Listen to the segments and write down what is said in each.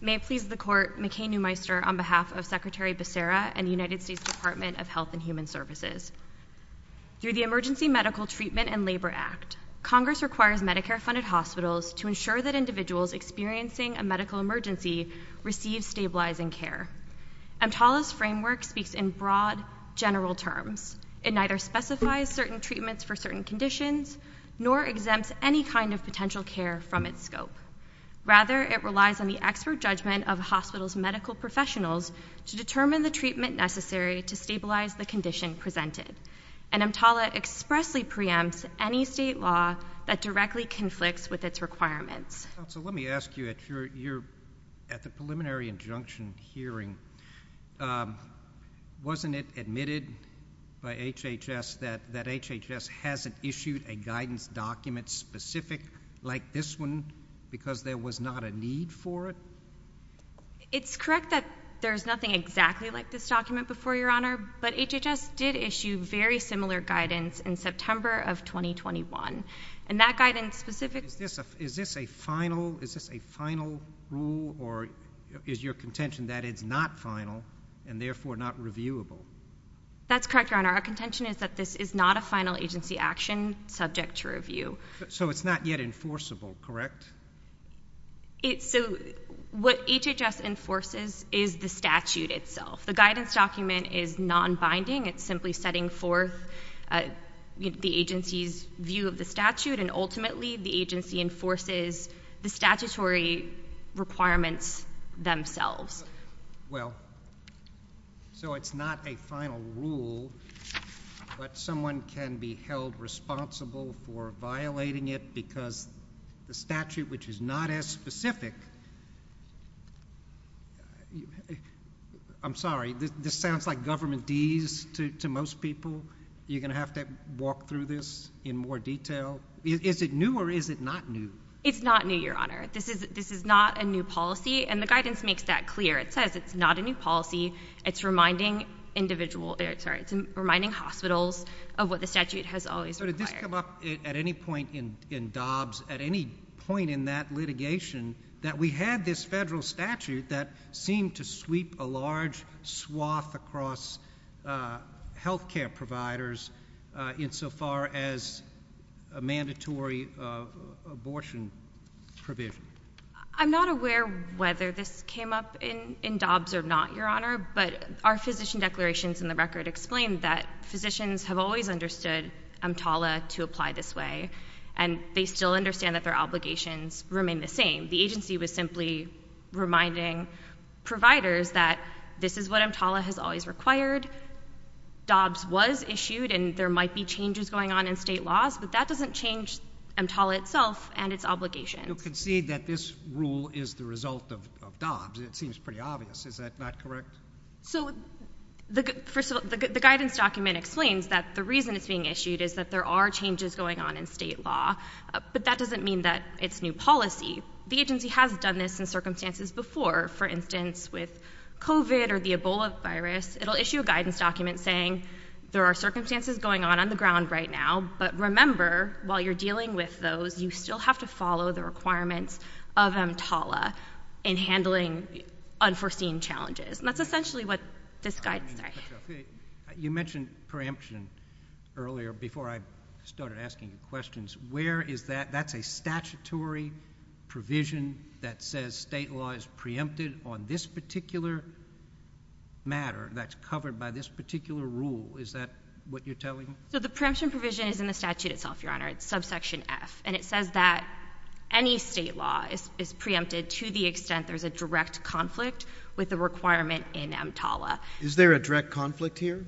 May it please the Court, McCain-Newmeister, on behalf of Secretary Becerra and the United States Department of Health and Human Services. Through the Emergency Medical Treatment and Labor Act, Congress requires Medicare-funded hospitals to ensure that individuals experiencing a medical emergency receive stabilizing care. EMTALA's framework speaks in broad, general terms. It neither specifies certain treatments for certain conditions, nor exempts any kind of potential care from its scope. Rather, it relies on the expert judgment of a hospital's medical professionals to determine the treatment necessary to stabilize the condition presented. And EMTALA expressly preempts any state law that directly conflicts with its requirements. Counsel, let me ask you, at the preliminary injunction hearing, wasn't it admitted by HHS that HHS hasn't issued a guidance document specific like this one because there was not a need for it? It's correct that there's nothing exactly like this document, Your Honor, but HHS did issue very similar guidance in September of 2021. And that guidance specific... Is this a final rule or is your contention that it's not final and therefore not reviewable? That's correct, Your Honor. Our contention is that this is not a final agency action subject to review. So it's not yet enforceable, correct? So what HHS enforces is the statute itself. The guidance document is non-binding. It's simply setting forth the agency's view of the statute and ultimately the agency enforces the statutory requirements themselves. Well, so it's not a final rule, but someone can be held responsible for violating it because the statute, which is not as specific... I'm sorry, this sounds like government deeds to most people. You're going to have to walk through this in more detail. Is it new or is it not new? It's not new, Your Honor. This is not a new policy and the guidance makes that clear. It says it's not a new policy. It's reminding hospitals of what the statute has always required. So did this come up at any point in Dobbs, at any point in that litigation, that we had this federal statute that seemed to sweep a large swath across healthcare providers insofar as a mandatory abortion provision? I'm not aware whether this came up in Dobbs or not, Your Honor, but our physician declarations in the record explain that physicians have always understood EMTALA to apply this way and they still understand that their obligations remain the same. The agency was simply reminding providers that this is what EMTALA has always required. Dobbs was issued and there might be changes going on in state laws, but that doesn't change EMTALA itself and its obligations. You concede that this rule is the result of Dobbs. It seems pretty obvious. Is that not correct? So first of all, the guidance document explains that the reason it's being issued is that there are changes going on in state law, but that doesn't mean that it's new policy. The agency has done this in circumstances before. For instance, with COVID or the Ebola virus, it'll issue a guidance document saying there are circumstances going on on the ground right now, but remember, while you're dealing with those, you still have to follow the requirements of EMTALA in handling unforeseen challenges. That's essentially what this guidance says. You mentioned preemption earlier before I started asking questions. Where is that? That's a statutory provision that says state law is preempted on this particular matter that's covered by this particular rule. Is that what you're telling me? So the preemption provision is in the statute itself, Your Honor. It's subsection F, and it says that any state law is preempted to the extent there's a direct conflict with the requirement in EMTALA. Is there a direct conflict here?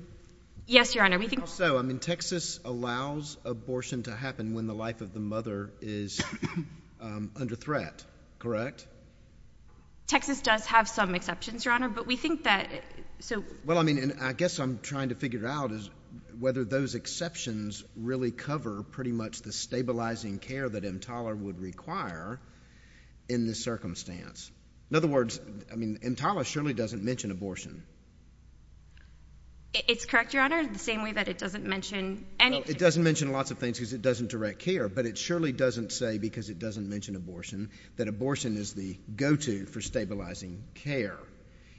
Yes, Your Honor. I think also, I mean, Texas allows abortion to happen when the life of the mother is under threat, correct? Texas does have some exceptions, Your Honor, but we think that, so— Well, I mean, and I guess I'm trying to figure out is whether those exceptions really cover pretty much the stabilizing care that EMTALA would require in this circumstance. In other words, I mean, EMTALA surely doesn't mention abortion. It's correct, Your Honor, the same way that it doesn't mention anything. It doesn't mention lots of things because it doesn't direct care, but it surely doesn't say because it doesn't mention abortion that abortion is the go-to for stabilizing care.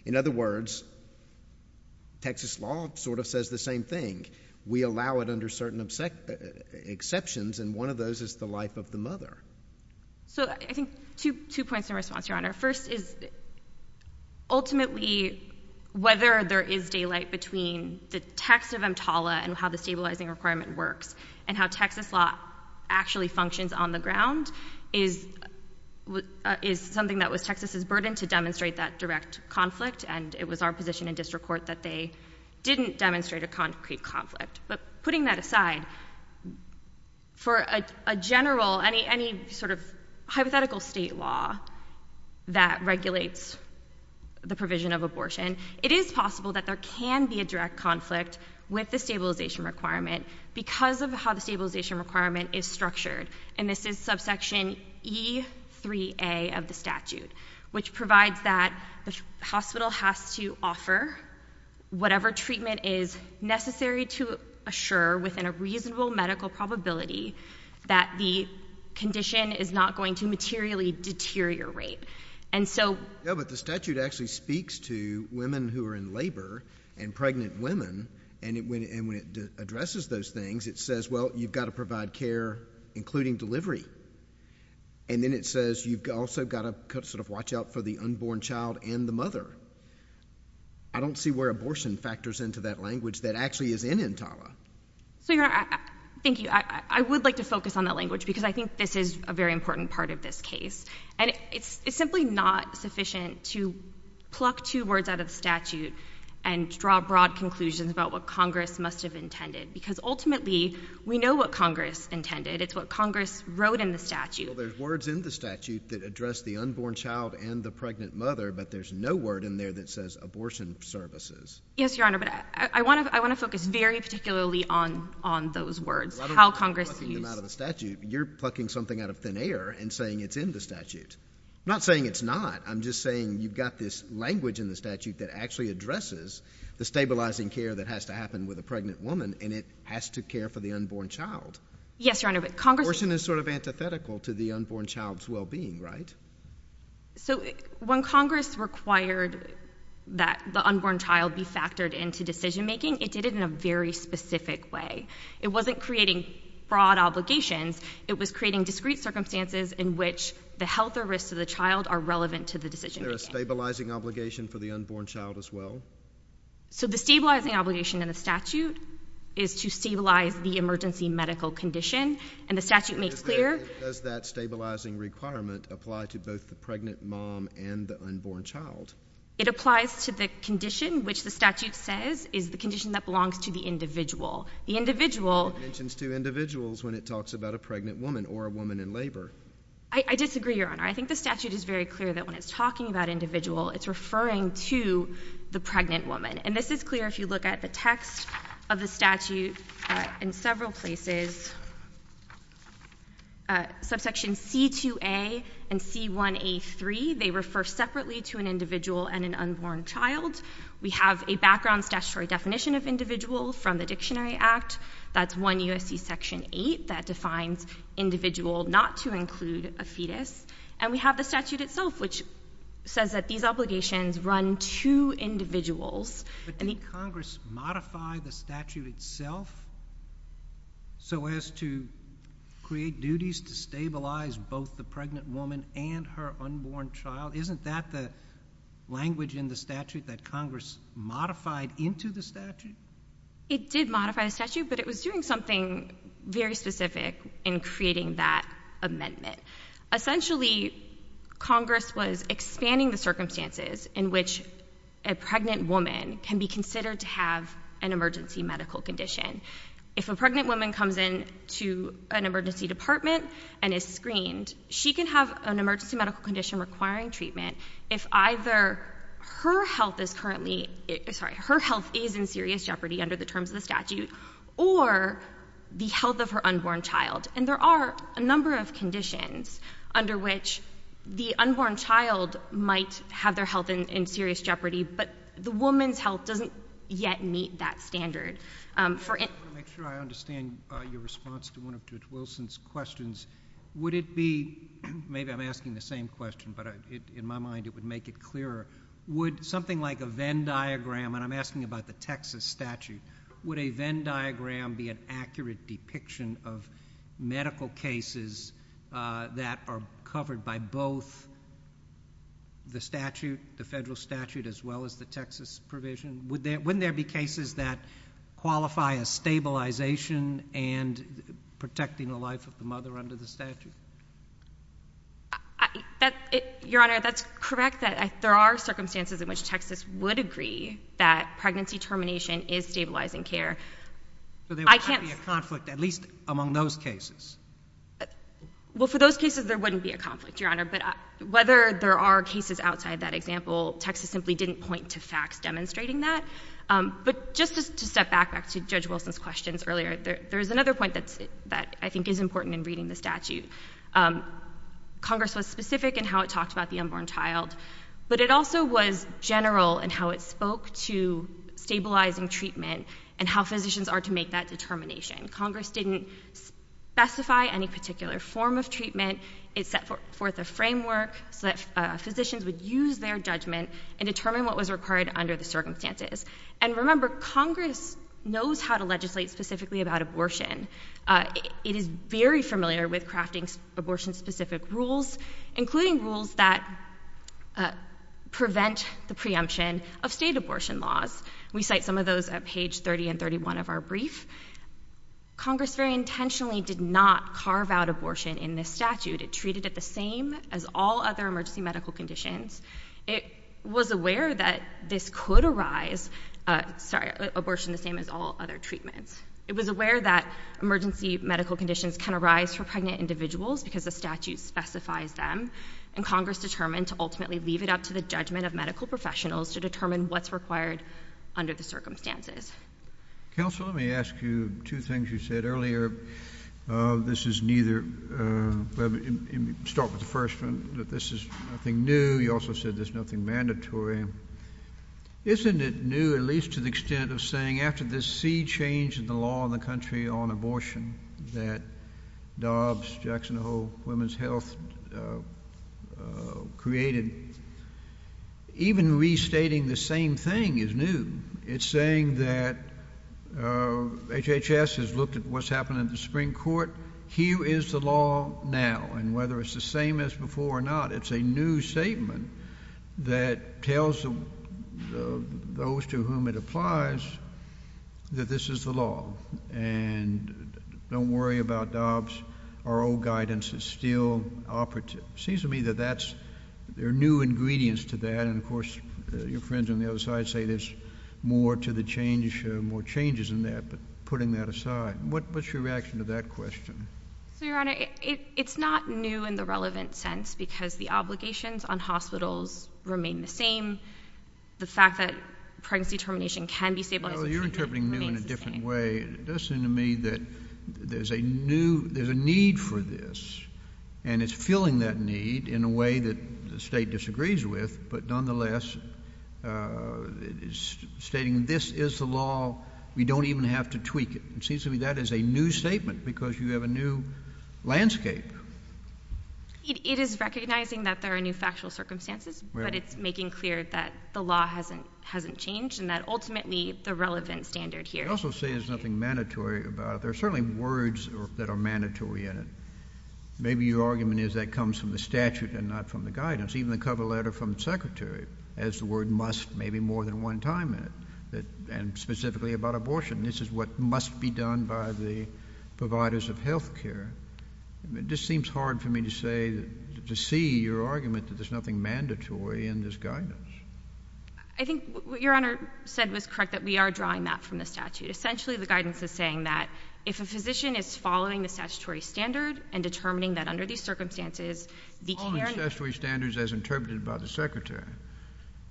In other words, Texas law sort of says the same thing. We allow it under certain exceptions, and one of those is the life of the mother. So I think two points in response, Your Honor. First is, ultimately, whether there is daylight between the text of EMTALA and how the stabilizing requirement works and how Texas law actually functions on the ground is something that was Texas' burden to demonstrate that direct conflict, and it was our position in district court that they didn't demonstrate a concrete conflict. But putting that aside, for a general, any sort of hypothetical state law that regulates the provision of abortion, it is possible that there can be a direct conflict with the stabilization requirement because of how the stabilization requirement is structured, and this is subsection E3A of the statute, which provides that the hospital has to offer whatever treatment is necessary to assure within a reasonable medical probability that the condition is not going to materially deteriorate. And so— Yeah, but the statute actually speaks to women who are in labor and pregnant women, and when it addresses those things, it says, well, you've got to provide care, including delivery. And then it says you've also got to sort of watch out for the unborn child and the mother. I don't see where abortion factors into that language that actually is in Intala. So, Your Honor, thank you. I would like to focus on that language because I think this is a very important part of this case, and it's simply not sufficient to pluck two words out of the statute and draw broad conclusions about what Congress must have intended, because ultimately, we know what Congress intended. It's what Congress wrote in the statute. Well, there's words in the statute that address the unborn child and the pregnant mother, but there's no word in there that says abortion services. Yes, Your Honor, but I want to focus very particularly on those words, how Congress used— Rather than plucking them out of the statute, you're plucking something out of thin air and saying it's in the statute. Not saying it's not. I'm just saying you've got this language in the statute that actually addresses the stabilizing care that has to happen with a pregnant woman, and it has to care for the unborn child. Yes, Your Honor, but Congress— Abortion is sort of antithetical to the unborn child's well-being, right? So, when Congress required that the unborn child be factored into decision-making, it did it in a very specific way. It wasn't creating broad obligations. It was creating discrete circumstances in which the health or risks of the child are relevant to the decision-making. Is there a stabilizing obligation for the unborn child as well? So the stabilizing obligation in the statute is to stabilize the emergency medical condition, and the statute makes clear— Does that stabilizing requirement apply to both the pregnant mom and the unborn child? It applies to the condition, which the statute says is the condition that belongs to the individual. The individual— It mentions two individuals when it talks about a pregnant woman or a woman in labor. I disagree, Your Honor. I think the statute is very clear that when it's talking about individual, it's referring to the pregnant woman, and this is clear if you look at the text of the statute in several places. Subsection C2a and C1a3, they refer separately to an individual and an unborn child. We have a background statutory definition of individual from the Dictionary Act. That's 1 U.S.C. Section 8 that defines individual not to include a fetus. And we have the statute itself, which says that these obligations run to individuals. But did Congress modify the statute itself so as to create duties to stabilize both the pregnant woman and her unborn child? Isn't that the language in the statute that Congress modified into the statute? It did modify the statute, but it was doing something very specific in creating that amendment. Essentially, Congress was expanding the circumstances in which a pregnant woman can be considered to have an emergency medical condition. If a pregnant woman comes in to an emergency department and is screened, she can have an emergency medical condition requiring treatment if either her health is in serious jeopardy under the terms of the statute or the health of her unborn child. And there are a number of conditions under which the unborn child might have their health in serious jeopardy, but the woman's health doesn't yet meet that standard. I want to make sure I understand your response to one of Judge Wilson's questions. Would it be—maybe I'm asking the same question, but in my mind it would make it clearer—would something like a Venn diagram—and I'm asking about the Texas statute—would a Venn diagram be an accurate depiction of medical cases that are covered by both the statute, the federal statute, as well as the Texas provision? Wouldn't there be cases that qualify as stabilization and protecting the life of the mother under the statute? Your Honor, that's correct. There are circumstances in which Texas would agree that pregnancy termination is stabilizing care. So there would not be a conflict, at least among those cases? Well, for those cases there wouldn't be a conflict, Your Honor, but whether there are cases outside that example, Texas simply didn't point to facts demonstrating that. But just to step back to Judge Wilson's questions earlier, there's another point that I think is important in reading the statute. Congress was specific in how it talked about the unborn child, but it also was general in how it spoke to stabilizing treatment and how physicians are to make that determination. Congress didn't specify any particular form of treatment. It set forth a framework so that physicians would use their judgment and determine what was required under the circumstances. And remember, Congress knows how to legislate specifically about abortion. It is very familiar with crafting abortion-specific rules, including rules that prevent the preemption of state abortion laws. We cite some of those at page 30 and 31 of our brief. Congress very intentionally did not carve out abortion in this statute. It treated it the same as all other emergency medical conditions. It was aware that this could arise—sorry, abortion the same as all other treatments. It was aware that emergency medical conditions can arise for pregnant individuals because the statute specifies them, and Congress determined to ultimately leave it up to the judgment of medical professionals to determine what's required under the circumstances. Counsel, let me ask you two things you said earlier. This is neither—start with the first one, that this is nothing new. You also said there's nothing mandatory. Isn't it new, at least to the extent of saying after this sea change in the law in the country on abortion that Dobbs, Jackson Hole, Women's Health created, even restating the same thing is new? It's saying that HHS has looked at what's happened in the Supreme Court. Here is the law now, and whether it's the same as before or not, it's a new statement that tells those to whom it applies that this is the law, and don't worry about Dobbs. Our old guidance is still operative. Seems to me that that's—there are new ingredients to that, and of course, your friends on the other side say there's more to the change—more changes in that, but putting that aside, what's your reaction to that question? So, Your Honor, it's not new in the relevant sense because the obligations on hospitals remain the same. The fact that pregnancy termination can be stabilized— No, you're interpreting new in a different way. It does seem to me that there's a new—there's a need for this, and it's filling that need in a way that the state disagrees with, but nonetheless, stating this is the law. We don't even have to tweak it. Seems to me that is a new statement because you have a new landscape. It is recognizing that there are new factual circumstances, but it's making clear that the law hasn't changed, and that ultimately, the relevant standard here— You also say there's nothing mandatory about it. There are certainly words that are mandatory in it. Maybe your argument is that comes from the statute and not from the guidance. Even the cover letter from the Secretary has the word must maybe more than one time in it, and specifically about abortion. This is what must be done by the providers of health care. It just seems hard for me to say—to see your argument that there's nothing mandatory in this guidance. I think what Your Honor said was correct, that we are drawing that from the statute. Essentially, the guidance is saying that if a physician is following the statutory standard and determining that under these circumstances, the care— Following the statutory standards as interpreted by the Secretary.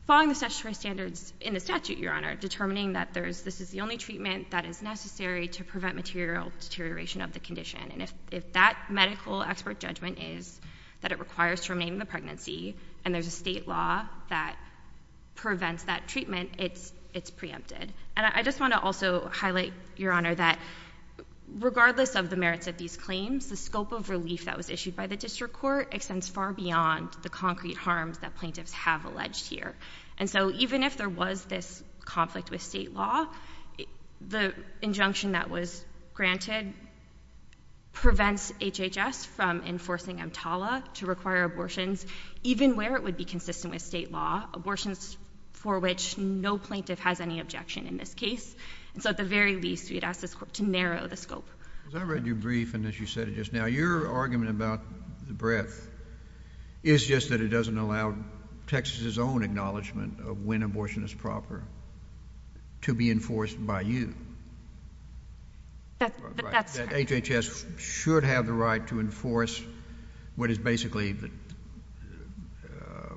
Following the statutory standards in the statute, Your Honor. Determining that this is the only treatment that is necessary to prevent material deterioration of the condition. And if that medical expert judgment is that it requires terminating the pregnancy, and there's a state law that prevents that treatment, it's preempted. And I just want to also highlight, Your Honor, that regardless of the merits of these claims, the scope of relief that was issued by the District Court extends far beyond the concrete harms that plaintiffs have alleged here. And so even if there was this conflict with state law, the injunction that was granted prevents HHS from enforcing EMTALA to require abortions, even where it would be consistent with state law—abortions for which no plaintiff has any objection in this case. And so at the very least, we'd ask this Court to narrow the scope. Because I read your brief, and as you said it just now, your argument about the breadth is just that it doesn't allow Texas' own acknowledgement of when abortion is proper to be enforced by you. That's right. That HHS should have the right to enforce what is basically the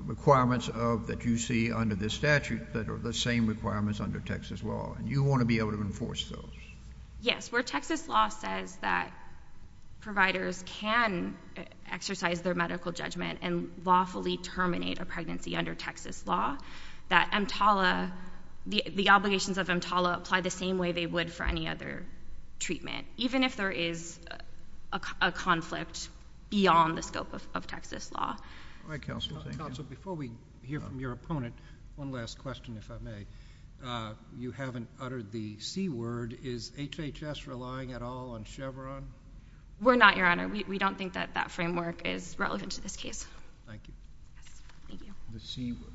requirements of—that you see under this statute that are the same requirements under Texas law. And you want to be able to enforce those. Yes. Where Texas law says that providers can exercise their medical judgment and lawfully terminate a pregnancy under Texas law, that EMTALA—the obligations of EMTALA apply the same way they would for any other treatment, even if there is a conflict beyond the scope of Texas law. All right, Counsel. Thank you. Counsel, before we hear from your opponent, one last question, if I may. You haven't uttered the C-word. Is HHS relying at all on Chevron? We're not, Your Honor. We don't think that that framework is relevant to this case. Thank you. Thank you. The C-word.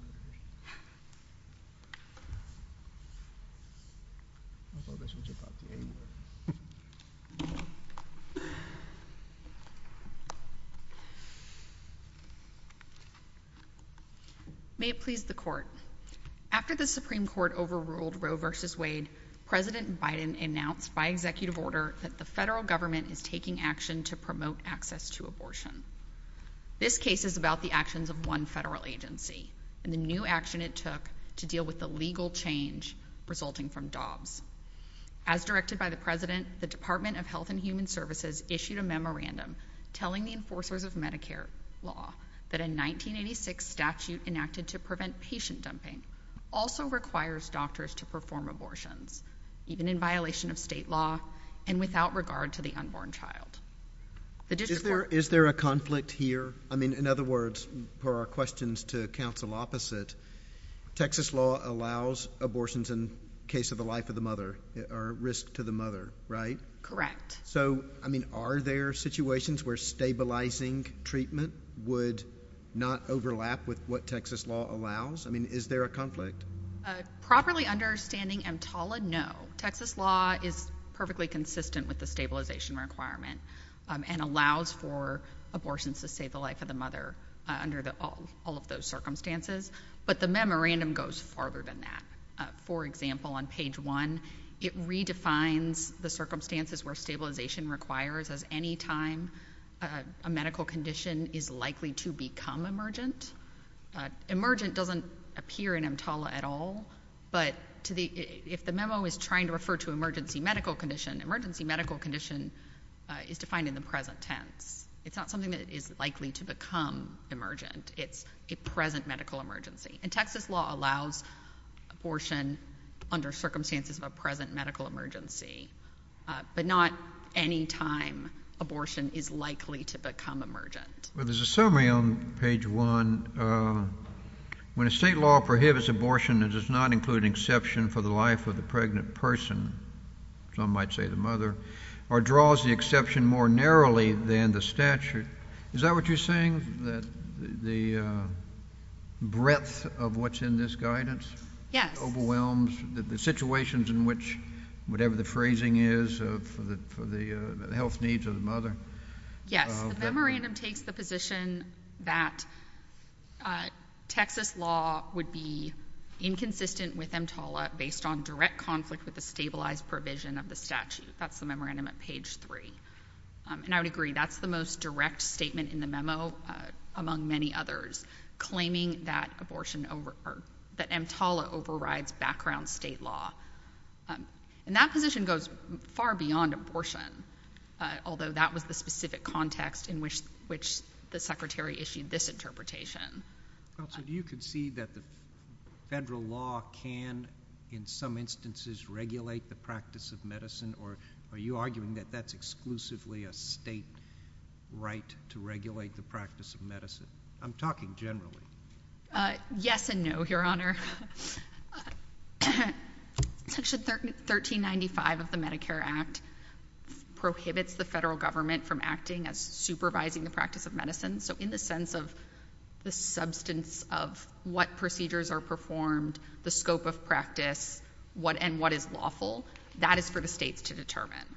May it please the Court. After the Supreme Court overruled Roe v. Wade, President Biden announced by executive order that the federal government is taking action to promote access to abortion. This case is about the actions of one federal agency and the new action it took to deal with the legal change resulting from Dobbs. As directed by the President, the Department of Health and Human Services issued a memorandum telling the enforcers of Medicare law that a 1986 statute enacted to prevent patient dumping also requires doctors to perform abortions, even in violation of state law and without regard to the unborn child. Is there a conflict here? I mean, in other words, per our questions to counsel opposite, Texas law allows abortions in case of the life of the mother or risk to the mother, right? Correct. So, I mean, are there situations where stabilizing treatment would not overlap with what Texas law allows? I mean, is there a conflict? Properly understanding EMTALA, no. Texas law is perfectly consistent with the stabilization requirement and allows for abortions to save the life of the mother under all of those circumstances. But the memorandum goes farther than that. For example, on page one, it redefines the circumstances where stabilization requires as any time a medical condition is likely to become emergent. Emergent doesn't appear in EMTALA at all, but if the memo is trying to refer to emergency medical condition, emergency medical condition is defined in the present tense. It's not something that is likely to become emergent. It's a present medical emergency. And Texas law allows abortion under circumstances of a present medical emergency, but not any time abortion is likely to become emergent. Well, there's a summary on page one. When a state law prohibits abortion, it does not include an exception for the life of the pregnant person, some might say the mother, or draws the exception more narrowly than the statute. Is that what you're saying, that the breadth of what's in this guidance overwhelms the situations in which whatever the phrasing is for the health needs of the mother? Yes. The memorandum takes the position that Texas law would be inconsistent with EMTALA based on direct conflict with the stabilized provision of the statute. That's the memorandum at page three. And I would agree, that's the most direct statement in the memo, among many others, claiming that EMTALA overrides background state law. And that position goes far beyond abortion, although that was the specific context in which the secretary issued this interpretation. Counsel, do you concede that the federal law can, in some instances, regulate the practice of medicine, or are you arguing that that's exclusively a state right to regulate the practice of medicine? I'm talking generally. Yes and no, Your Honor. Section 1395 of the Medicare Act prohibits the federal government from acting as supervising the practice of medicine. So in the sense of the substance of what procedures are performed, the scope of practice, and what is lawful, that is for the states to determine.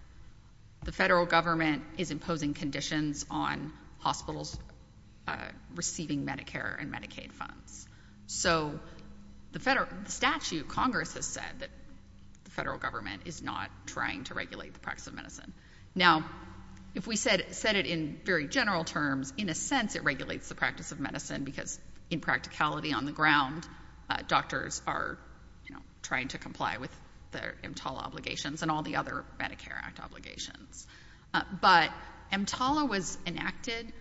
The federal government is imposing conditions on hospitals receiving Medicare and Medicaid funds. So the statute, Congress has said that the federal government is not trying to regulate the practice of medicine. Now, if we said it in very general terms, in a sense, it regulates the practice of medicine because, in practicality, on the ground, doctors are trying to comply with their EMTALA obligations and all the other Medicare Act obligations. But EMTALA was enacted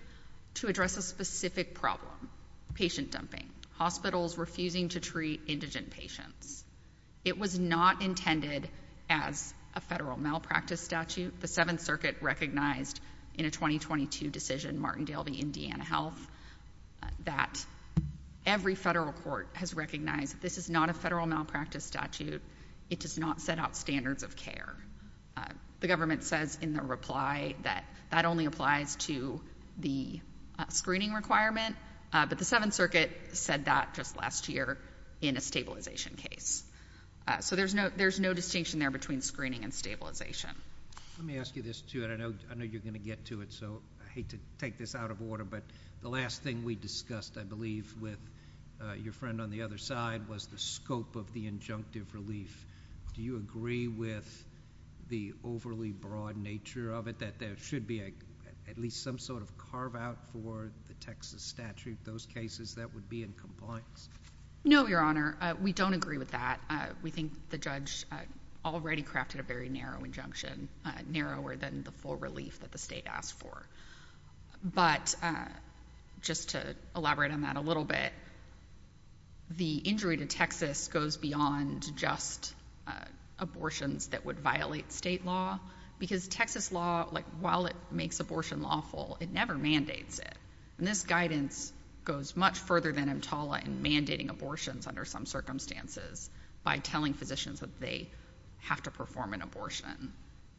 to address a specific problem, patient dumping, hospitals refusing to treat indigent patients. It was not intended as a federal malpractice statute. The Seventh Circuit recognized in a 2022 decision, Martindale v. Indiana Health, that every federal court has recognized this is not a federal malpractice statute. It does not set out standards of care. The government says in the reply that that only applies to the screening requirement. But the Seventh Circuit said that just last year in a stabilization case. So there's no distinction there between screening and stabilization. Let me ask you this, too, and I know you're going to get to it, so I hate to take this out of order. But the last thing we discussed, I believe, with your friend on the other side was the scope of the injunctive relief. Do you agree with the overly broad nature of it, that there should be at least some sort of carve-out for the Texas statute, those cases that would be in compliance? No, Your Honor. We don't agree with that. We think the judge already crafted a very narrow injunction, narrower than the full relief that the state asked for. But just to elaborate on that a little bit, the injury to Texas goes beyond just abortions that would violate state law. Because Texas law, while it makes abortion lawful, it never mandates it. And this guidance goes much further than EMTALA in mandating abortions under some circumstances by telling physicians that they have to perform an abortion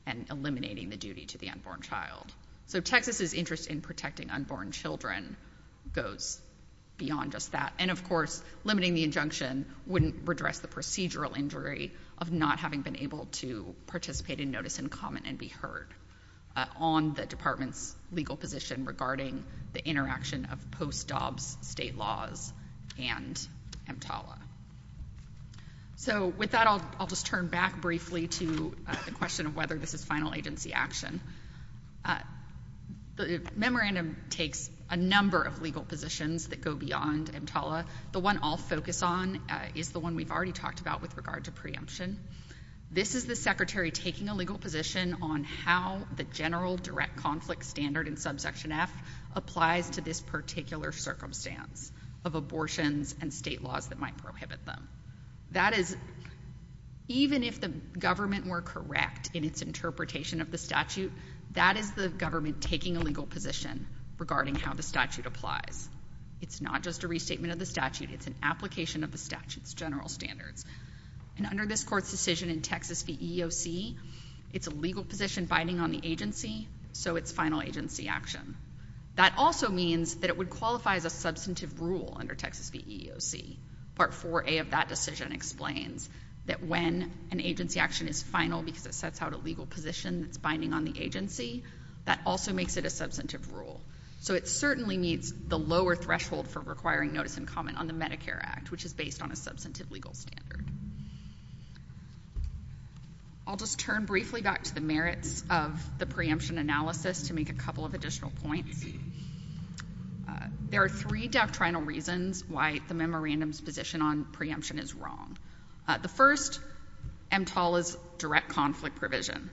and eliminating the duty to the unborn child. So Texas's interest in protecting unborn children goes beyond just that. And, of course, limiting the injunction wouldn't redress the procedural injury of not having been able to participate in notice and comment and be heard on the department's legal position regarding the interaction of post-Dobbs state laws and EMTALA. So with that, I'll just turn back briefly to the question of whether this is final agency action. The memorandum takes a number of legal positions that go beyond EMTALA. The one I'll focus on is the one we've already talked about with regard to preemption. This is the secretary taking a legal position on how the general direct conflict standard in subsection F applies to this particular circumstance of abortions and state laws that might prohibit them. That is, even if the government were correct in its interpretation of the statute, that is the government taking a legal position regarding how the statute applies. It's not just a restatement of the statute. It's an application of the statute's general standards. And under this court's decision in Texas v. EEOC, it's a legal position binding on the agency, so it's final agency action. That also means that it would qualify as a substantive rule under Texas v. EEOC. Part 4A of that decision explains that when an agency action is final because it sets out a legal position that's binding on the agency, that also makes it a substantive rule. So it certainly meets the lower threshold for requiring notice and comment on the Medicare Act, which is based on a substantive legal standard. I'll just turn briefly back to the merits of the preemption analysis to make a couple of additional points. There are three doctrinal reasons why the memorandum's position on preemption is wrong. The first, EMTALA's direct conflict provision.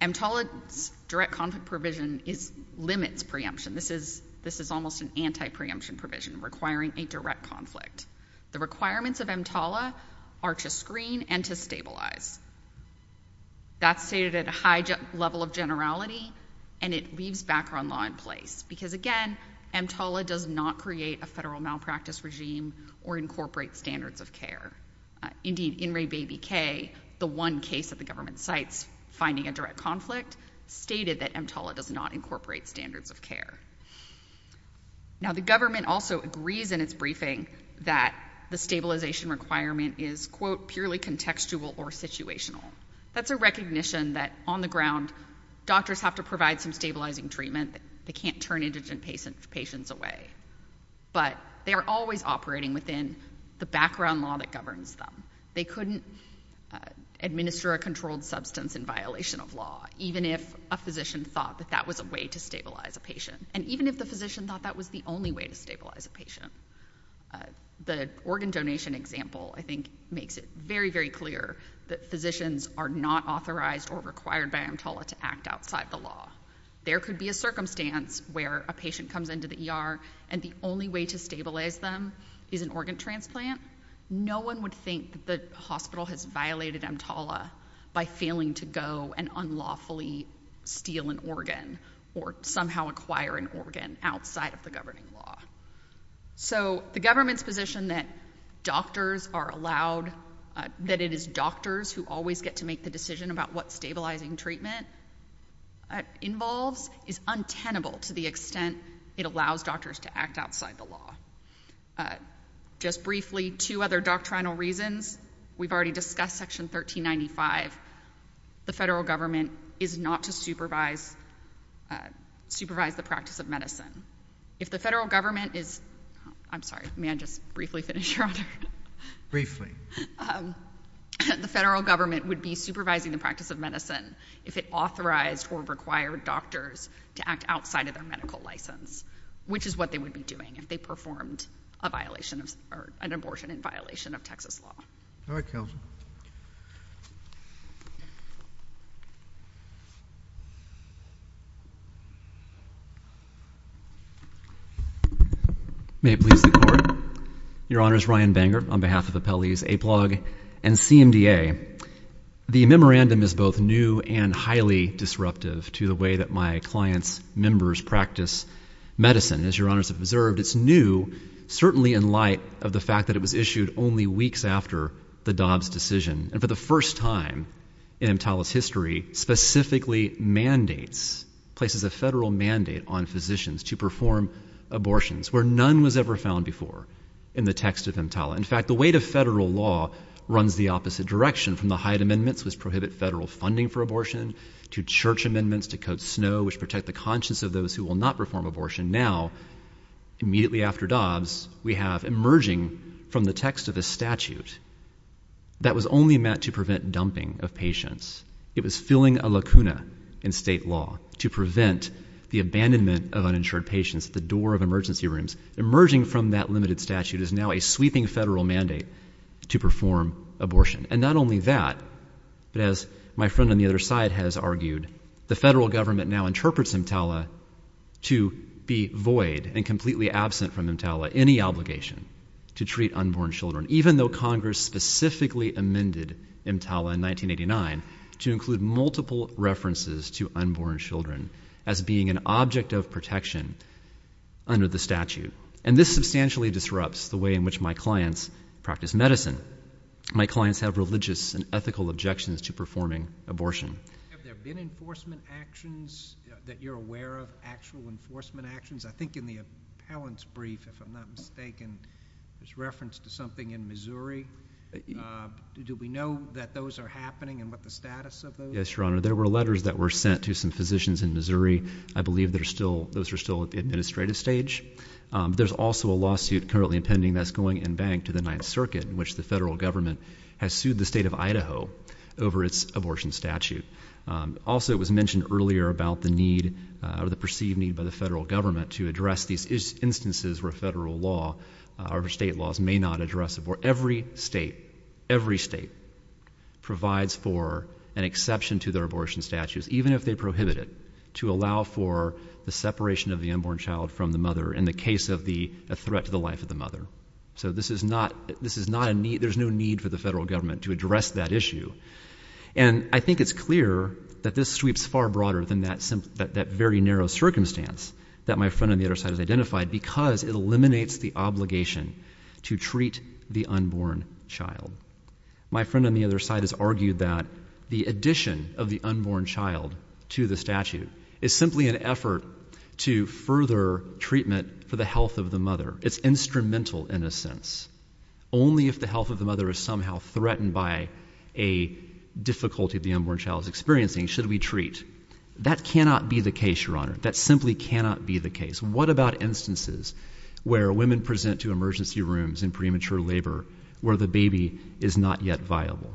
EMTALA's direct conflict provision limits preemption. This is almost an anti-preemption provision requiring a direct conflict. The requirements of EMTALA are to screen and to stabilize. That's stated at a high level of generality, and it leaves background law in place. Because again, EMTALA does not create a federal malpractice regime or incorporate standards of care. Indeed, In re Baby K, the one case that the government cites finding a direct conflict, stated that EMTALA does not incorporate standards of care. Now, the government also agrees in its briefing that the stabilization requirement is, quote, contextual or situational. That's a recognition that on the ground, doctors have to provide some stabilizing treatment. They can't turn indigent patients away. But they are always operating within the background law that governs them. They couldn't administer a controlled substance in violation of law, even if a physician thought that that was a way to stabilize a patient. And even if the physician thought that was the only way to stabilize a patient. The organ donation example, I think, makes it very, very clear that physicians are not authorized or required by EMTALA to act outside the law. There could be a circumstance where a patient comes into the ER and the only way to stabilize them is an organ transplant. No one would think that the hospital has violated EMTALA by failing to go and unlawfully steal an organ or somehow acquire an organ outside of the governing law. So the government's position that doctors are allowed, that it is doctors who always get to make the decision about what stabilizing treatment involves, is untenable to the extent it allows doctors to act outside the law. Just briefly, two other doctrinal reasons. We've already discussed Section 1395. The federal government is not to supervise the practice of medicine. If the federal government is... I'm sorry, may I just briefly finish, Your Honor? Briefly. The federal government would be supervising the practice of medicine if it authorized or required doctors to act outside of their medical license, which is what they would be doing if they performed a violation of... or an abortion in violation of Texas law. All right, Counselor. May it please the Court. Your Honors, Ryan Bangert on behalf of Appellees Aplog and CMDA. The memorandum is both new and highly disruptive to the way that my client's members practice medicine. As Your Honors have observed, it's new, certainly in light of the fact that it was issued only weeks after the Dobbs decision. And for the first time in EMTALA's history, specifically mandates, places a federal mandate on physicians to perform abortions where none was ever found before in the text of EMTALA. In fact, the weight of federal law runs the opposite direction. From the Hyatt Amendments, which prohibit federal funding for abortion, to Church Amendments to Code Snow, which protect the conscience of those who will not perform abortion. Now, immediately after Dobbs, we have emerging from the text of a statute that was only meant to prevent dumping of patients. It was filling a lacuna in state law to prevent the abandonment of uninsured patients at the door of emergency rooms. Emerging from that limited statute is now a sweeping federal mandate to perform abortion. And not only that, but as my friend on the other side has argued, the federal government now interprets EMTALA to be void and completely absent from EMTALA any obligation to treat unborn children. Even though Congress specifically amended EMTALA in 1989 to include multiple references to unborn children as being an object of protection under the statute. And this substantially disrupts the way in which my clients practice medicine. My clients have religious and ethical objections to performing abortion. Have there been enforcement actions that you're aware of, actual enforcement actions? I think in the appellant's brief, if I'm not mistaken, there's reference to something in Missouri. Do we know that those are happening and what the status of those? Yes, Your Honor. There were letters that were sent to some physicians in Missouri. I believe those are still at the administrative stage. There's also a lawsuit currently pending that's going in bank to the Ninth Circuit, in which the federal government has sued the state of Idaho over its abortion statute. Also, it was mentioned earlier about the need or the perceived need by the federal government to address these instances where federal law or state laws may not address it. Where every state, every state provides for an exception to their abortion statutes, even if they prohibit it, to allow for the separation of the unborn child from the mother in the case of a threat to the life of the mother. So there's no need for the federal government to address that issue. And I think it's clear that this sweeps far broader than that very narrow circumstance that my friend on the other side has identified, because it eliminates the obligation to treat the unborn child. My friend on the other side has argued that the addition of the unborn child to the statute is simply an effort to further treatment for the health of the mother. It's instrumental in a sense. Only if the health of the mother is somehow threatened by a difficulty the unborn child is experiencing should we treat. That cannot be the case, Your Honor. That simply cannot be the case. What about instances where women present to emergency rooms in premature labor where the baby is not yet viable?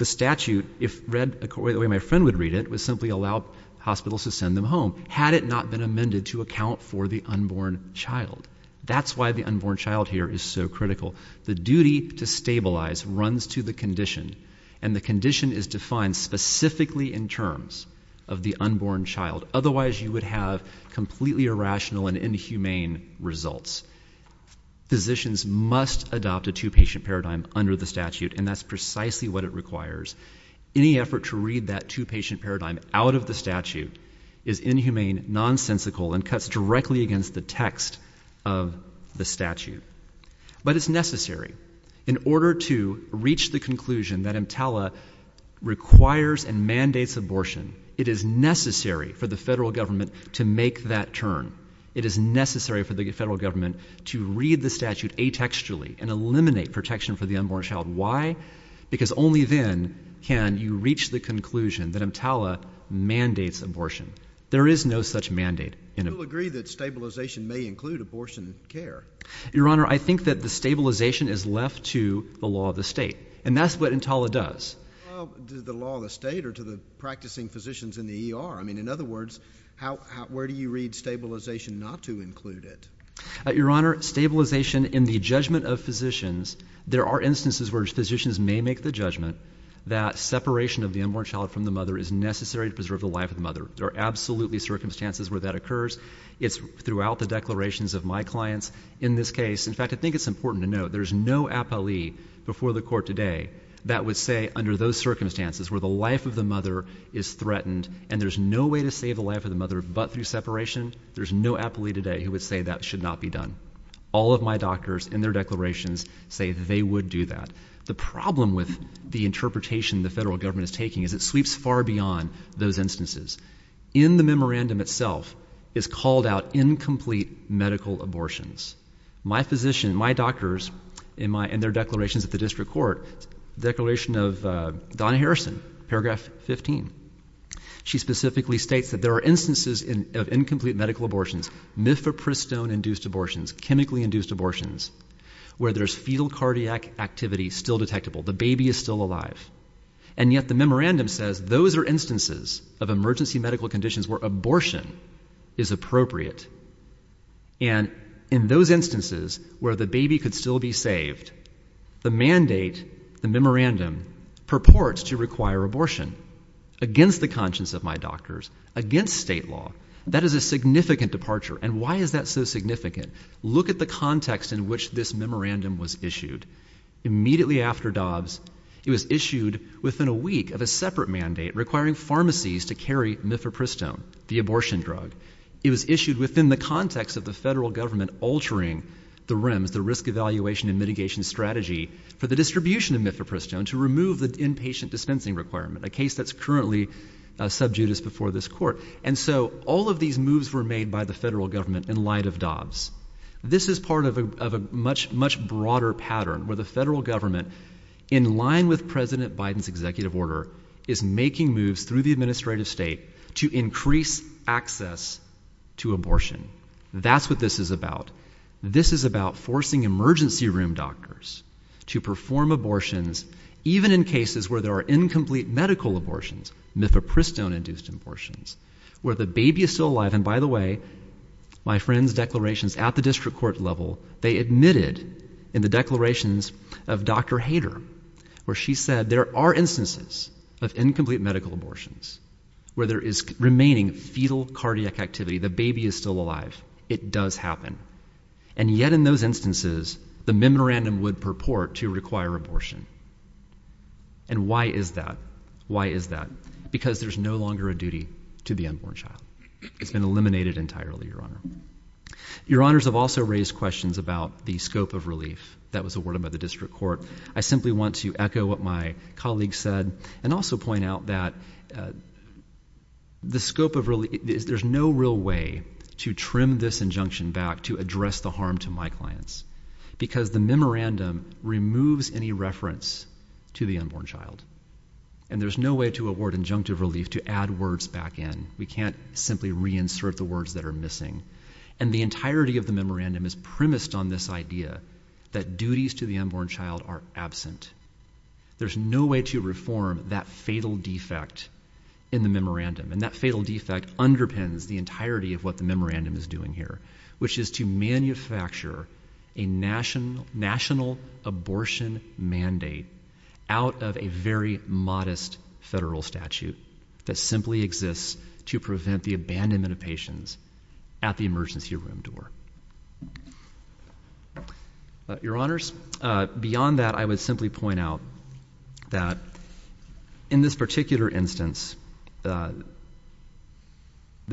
The statute, if read the way my friend would read it, would simply allow hospitals to send them home, had it not been amended to account for the unborn child. That's why the unborn child here is so critical. The duty to stabilize runs to the condition. And the condition is defined specifically in terms of the unborn child. Otherwise, you would have completely irrational and inhumane results. Physicians must adopt a two-patient paradigm under the statute, and that's precisely what it requires. Any effort to read that two-patient paradigm out of the statute is inhumane, nonsensical, and cuts directly against the text of the statute. But it's necessary. In order to reach the conclusion that EMTALA requires and mandates abortion, it is necessary for the federal government to make that turn. It is necessary for the federal government to read the statute atextually and eliminate protection for the unborn child. Why? Because only then can you reach the conclusion that EMTALA mandates abortion. There is no such mandate. You'll agree that stabilization may include abortion care. Your Honor, I think that the stabilization is left to the law of the state. And that's what EMTALA does. To the law of the state or to the practicing physicians in the ER? I mean, in other words, where do you read stabilization not to include it? Your Honor, stabilization in the judgment of physicians. There are instances where physicians may make the judgment that separation of the unborn child from the mother is necessary to preserve the life of the mother. There are absolutely circumstances where that occurs. It's throughout the declarations of my clients. In this case, in fact, I think it's important to note, there's no appellee before the court today that would say under those circumstances where the life of the mother is threatened and there's no way to save the life of the mother but through separation, there's no appellee today who would say that should not be done. All of my doctors in their declarations say they would do that. The problem with the interpretation the federal government is taking is it sweeps far beyond those instances. In the memorandum itself is called out incomplete medical abortions. My physician, my doctors in their declarations at the district court, declaration of Donna Harrison, paragraph 15. She specifically states that there are instances of incomplete medical abortions, mifepristone-induced abortions, chemically-induced abortions, where there's fetal cardiac activity still detectable. The baby is still alive. And yet the memorandum says those are instances of emergency medical conditions where abortion is appropriate. And in those instances where the baby could still be saved, the mandate, the memorandum purports to require abortion against the conscience of my doctors, against state law. That is a significant departure. And why is that so significant? Look at the context in which this memorandum was issued. Immediately after Dobbs, it was issued within a week of a separate mandate requiring pharmacies to carry mifepristone, the abortion drug. It was issued within the context of the federal government altering the REMS, the risk evaluation and mitigation strategy for the distribution of mifepristone to remove the inpatient dispensing requirement, a case that's currently sub judice before this court. And so all of these moves were made by the federal government in light of Dobbs. This is part of a much, much broader pattern where the federal government, in line with President Biden's executive order, is making moves through the administrative state to increase access to abortion. That's what this is about. This is about forcing emergency room doctors to perform abortions, even in cases where there are incomplete medical abortions, mifepristone induced abortions, where the baby is still alive. And by the way, my friend's declarations at the district court level, they admitted in the declarations of Dr. Hader, where she said there are instances of incomplete medical abortions where there is remaining fetal cardiac activity. The baby is still alive. It does happen. And yet in those instances, the memorandum would purport to require abortion. And why is that? Why is that? Because there's no longer a duty to the unborn child. It's been eliminated entirely, your honor. Your honors have also raised questions about the scope of relief that was awarded by the district court. I simply want to echo what my colleague said and also point out that there's no real way to trim this injunction back to address the harm to my clients because the memorandum removes any reference to the unborn child. And there's no way to award injunctive relief to add words back in. We can't simply reinsert the words that are missing. And the entirety of the memorandum is premised on this idea that duties to the unborn child are absent. There's no way to reform that fatal defect in the memorandum. And that fatal defect underpins the entirety of what the memorandum is doing here, which is to manufacture a national abortion mandate out of a very modest federal statute that simply exists to prevent the abandonment of patients at the emergency room door. Your honors, beyond that, I would simply point out that in this particular instance, the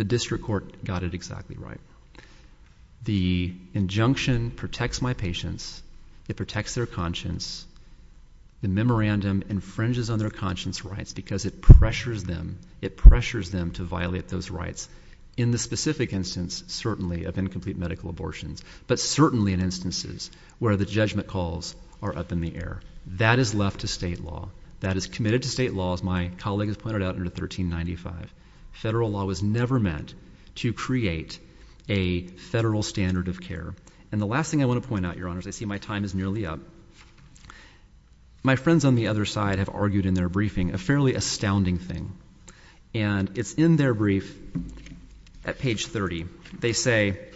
district court got it exactly right. The injunction protects my patients. It protects their conscience. The memorandum infringes on their conscience rights because it pressures them. It pressures them to violate those rights. In the specific instance, certainly, of incomplete medical abortions, but certainly in instances where the judgment calls are up in the air. That is left to state law. That is committed to state law, as my colleague has pointed out under 1395. Federal law was never meant to create a federal standard of care. And the last thing I want to point out, your honors, I see my time is nearly up. My friends on the other side have argued in their briefing a fairly astounding thing. And it's in their brief at page 30. They say,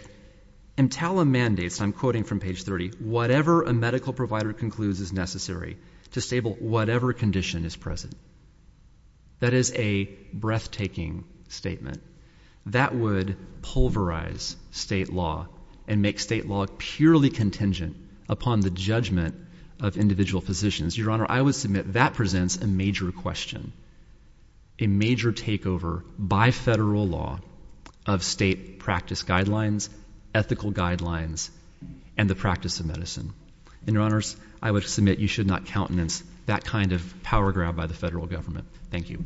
EMTALA mandates, I'm quoting from page 30, whatever a medical provider concludes is necessary to stable whatever condition is present. That is a breathtaking statement. That would pulverize state law and make state law purely contingent upon the judgment of individual physicians. Your honor, I would submit that presents a major question. A major takeover by federal law of state practice guidelines, ethical guidelines, and the practice of medicine. And your honors, I would submit you should not countenance that kind of power grab by the federal government. Thank you.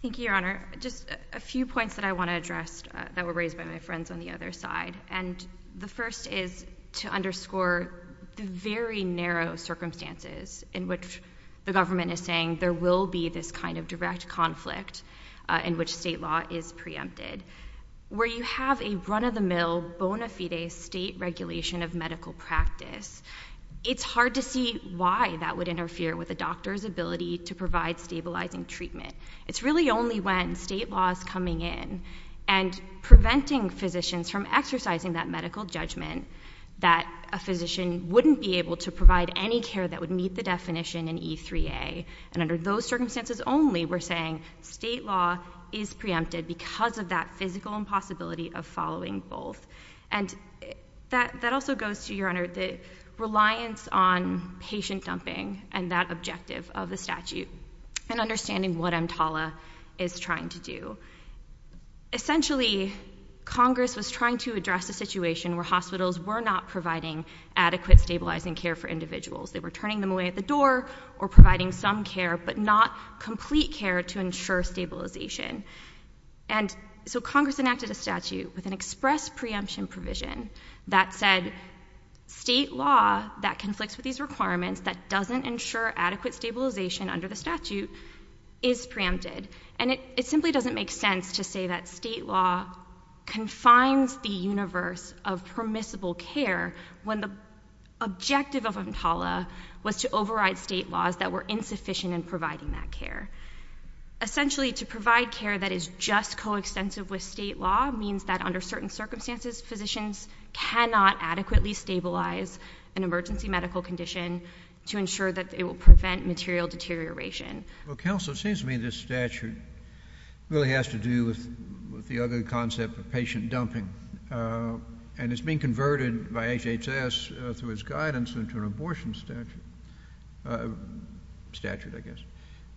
Thank you, your honor. Just a few points that I want to address that were raised by my friends on the other side. And the first is to underscore the very narrow circumstances in which the government is saying there will be this kind of direct conflict in which state law is preempted. Where you have a run-of-the-mill bona fide state regulation of medical practice, it's hard to see why that would interfere with a doctor's ability to provide stabilizing treatment. It's really only when state law is coming in and preventing physicians from exercising that medical judgment that a physician wouldn't be able to provide any care that would meet the definition in E3A. And under those circumstances only, we're saying state law is preempted because of that physical impossibility of following both. And that also goes to, your honor, the reliance on patient dumping and that objective of the statute. And understanding what EMTALA is trying to do. Essentially, Congress was trying to address a situation where hospitals were not providing adequate stabilizing care for individuals. They were turning them away at the door or providing some care, but not complete care to ensure stabilization. And so Congress enacted a statute with an express preemption provision that said, state law that conflicts with these requirements that doesn't ensure adequate stabilization under the statute is preempted. And it simply doesn't make sense to say that state law confines the universe of permissible care when the objective of EMTALA was to override state laws that were insufficient in providing that care. Essentially, to provide care that is just coextensive with state law means that under certain circumstances, physicians cannot adequately stabilize an emergency medical condition to ensure that it will prevent material deterioration. Well, counsel, it seems to me this statute really has to do with the other concept of patient dumping. And it's being converted by HHS through his guidance into an abortion statute, I guess.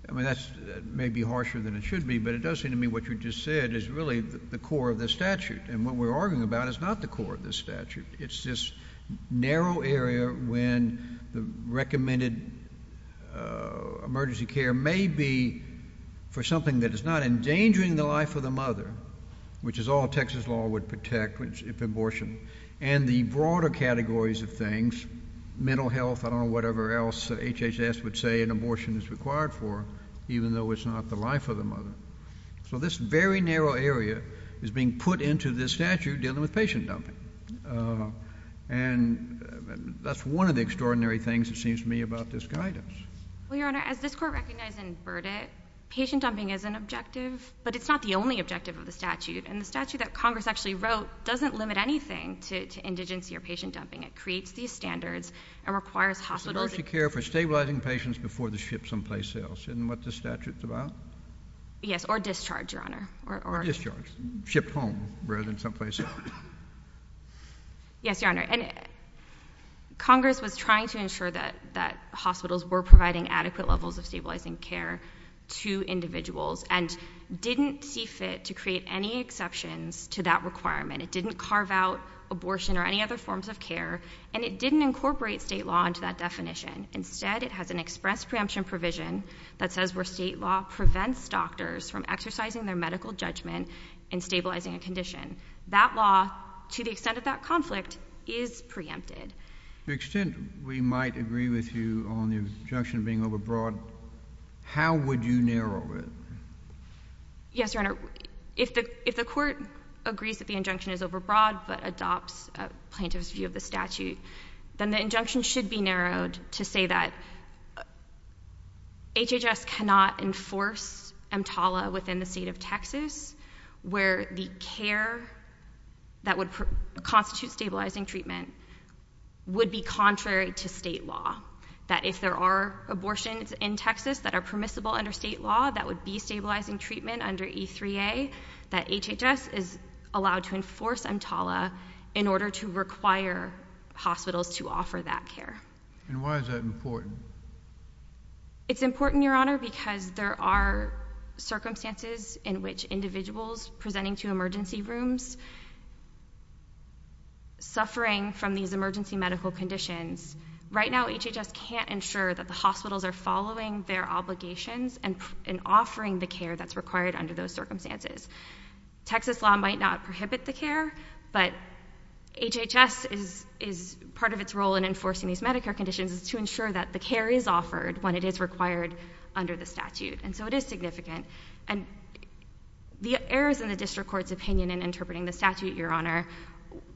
I mean, that may be harsher than it should be, but it does seem to me what you just said is really the core of the statute. And what we're arguing about is not the core of the statute. It's this narrow area when the recommended emergency care may be for something that is not endangering the life of the mother, which is all Texas law would protect if abortion. And the broader categories of things, mental health, I don't know, whatever else HHS would say an abortion is required for, even though it's not the life of the mother. So this very narrow area is being put into this statute dealing with patient dumping. And that's one of the extraordinary things, it seems to me, about this guidance. Well, Your Honor, as this court recognized in Burdett, patient dumping is an objective, but it's not the only objective of the statute. And the statute that Congress actually wrote doesn't limit anything to indigency or patient dumping. It creates these standards and requires hospitals. Emergency care for stabilizing patients before they ship someplace else. Isn't what the statute's about? Yes, or discharge, Your Honor. Or discharge, ship home rather than someplace else. Yes, Your Honor, and Congress was trying to ensure that hospitals were providing adequate levels of stabilizing care to individuals and didn't see fit to create any exceptions to that requirement. It didn't carve out abortion or any other forms of care, and it didn't incorporate state law into that definition. Instead, it has an express preemption provision from exercising their medical judgment in stabilizing a condition. That law, to the extent of that conflict, is preempted. To the extent we might agree with you on the injunction being overbroad, how would you narrow it? Yes, Your Honor, if the court agrees that the injunction is overbroad but adopts a plaintiff's view of the statute, then the injunction should be narrowed to say that HHS cannot enforce EMTALA within the state of Texas where the care that would constitute stabilizing treatment would be contrary to state law. That if there are abortions in Texas that are permissible under state law, that would be stabilizing treatment under E3A, that HHS is allowed to enforce EMTALA in order to require hospitals to offer that care. And why is that important? It's important, Your Honor, because there are circumstances in which individuals presenting to emergency rooms suffering from these emergency medical conditions, right now HHS can't ensure that the hospitals are following their obligations and offering the care that's required under those circumstances. Texas law might not prohibit the care, but HHS is part of its role in enforcing these Medicare conditions is to ensure that the care is offered when it is required under the statute. And so it is significant. And the errors in the district court's opinion in interpreting the statute, Your Honor,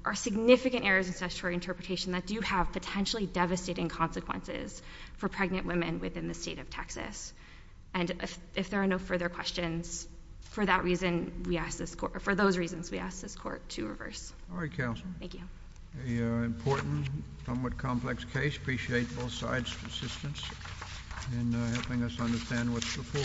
are significant errors in statutory interpretation that do have potentially devastating consequences for pregnant women within the state of Texas. And if there are no further questions, for that reason, we ask this court, for those reasons, we ask this court to reverse. JUSTICE KENNEDY All right, Counsel. CANDIDATE COOK Thank you. JUSTICE KENNEDY A very important, somewhat complex case. Appreciate both sides' assistance in helping us understand what's before us.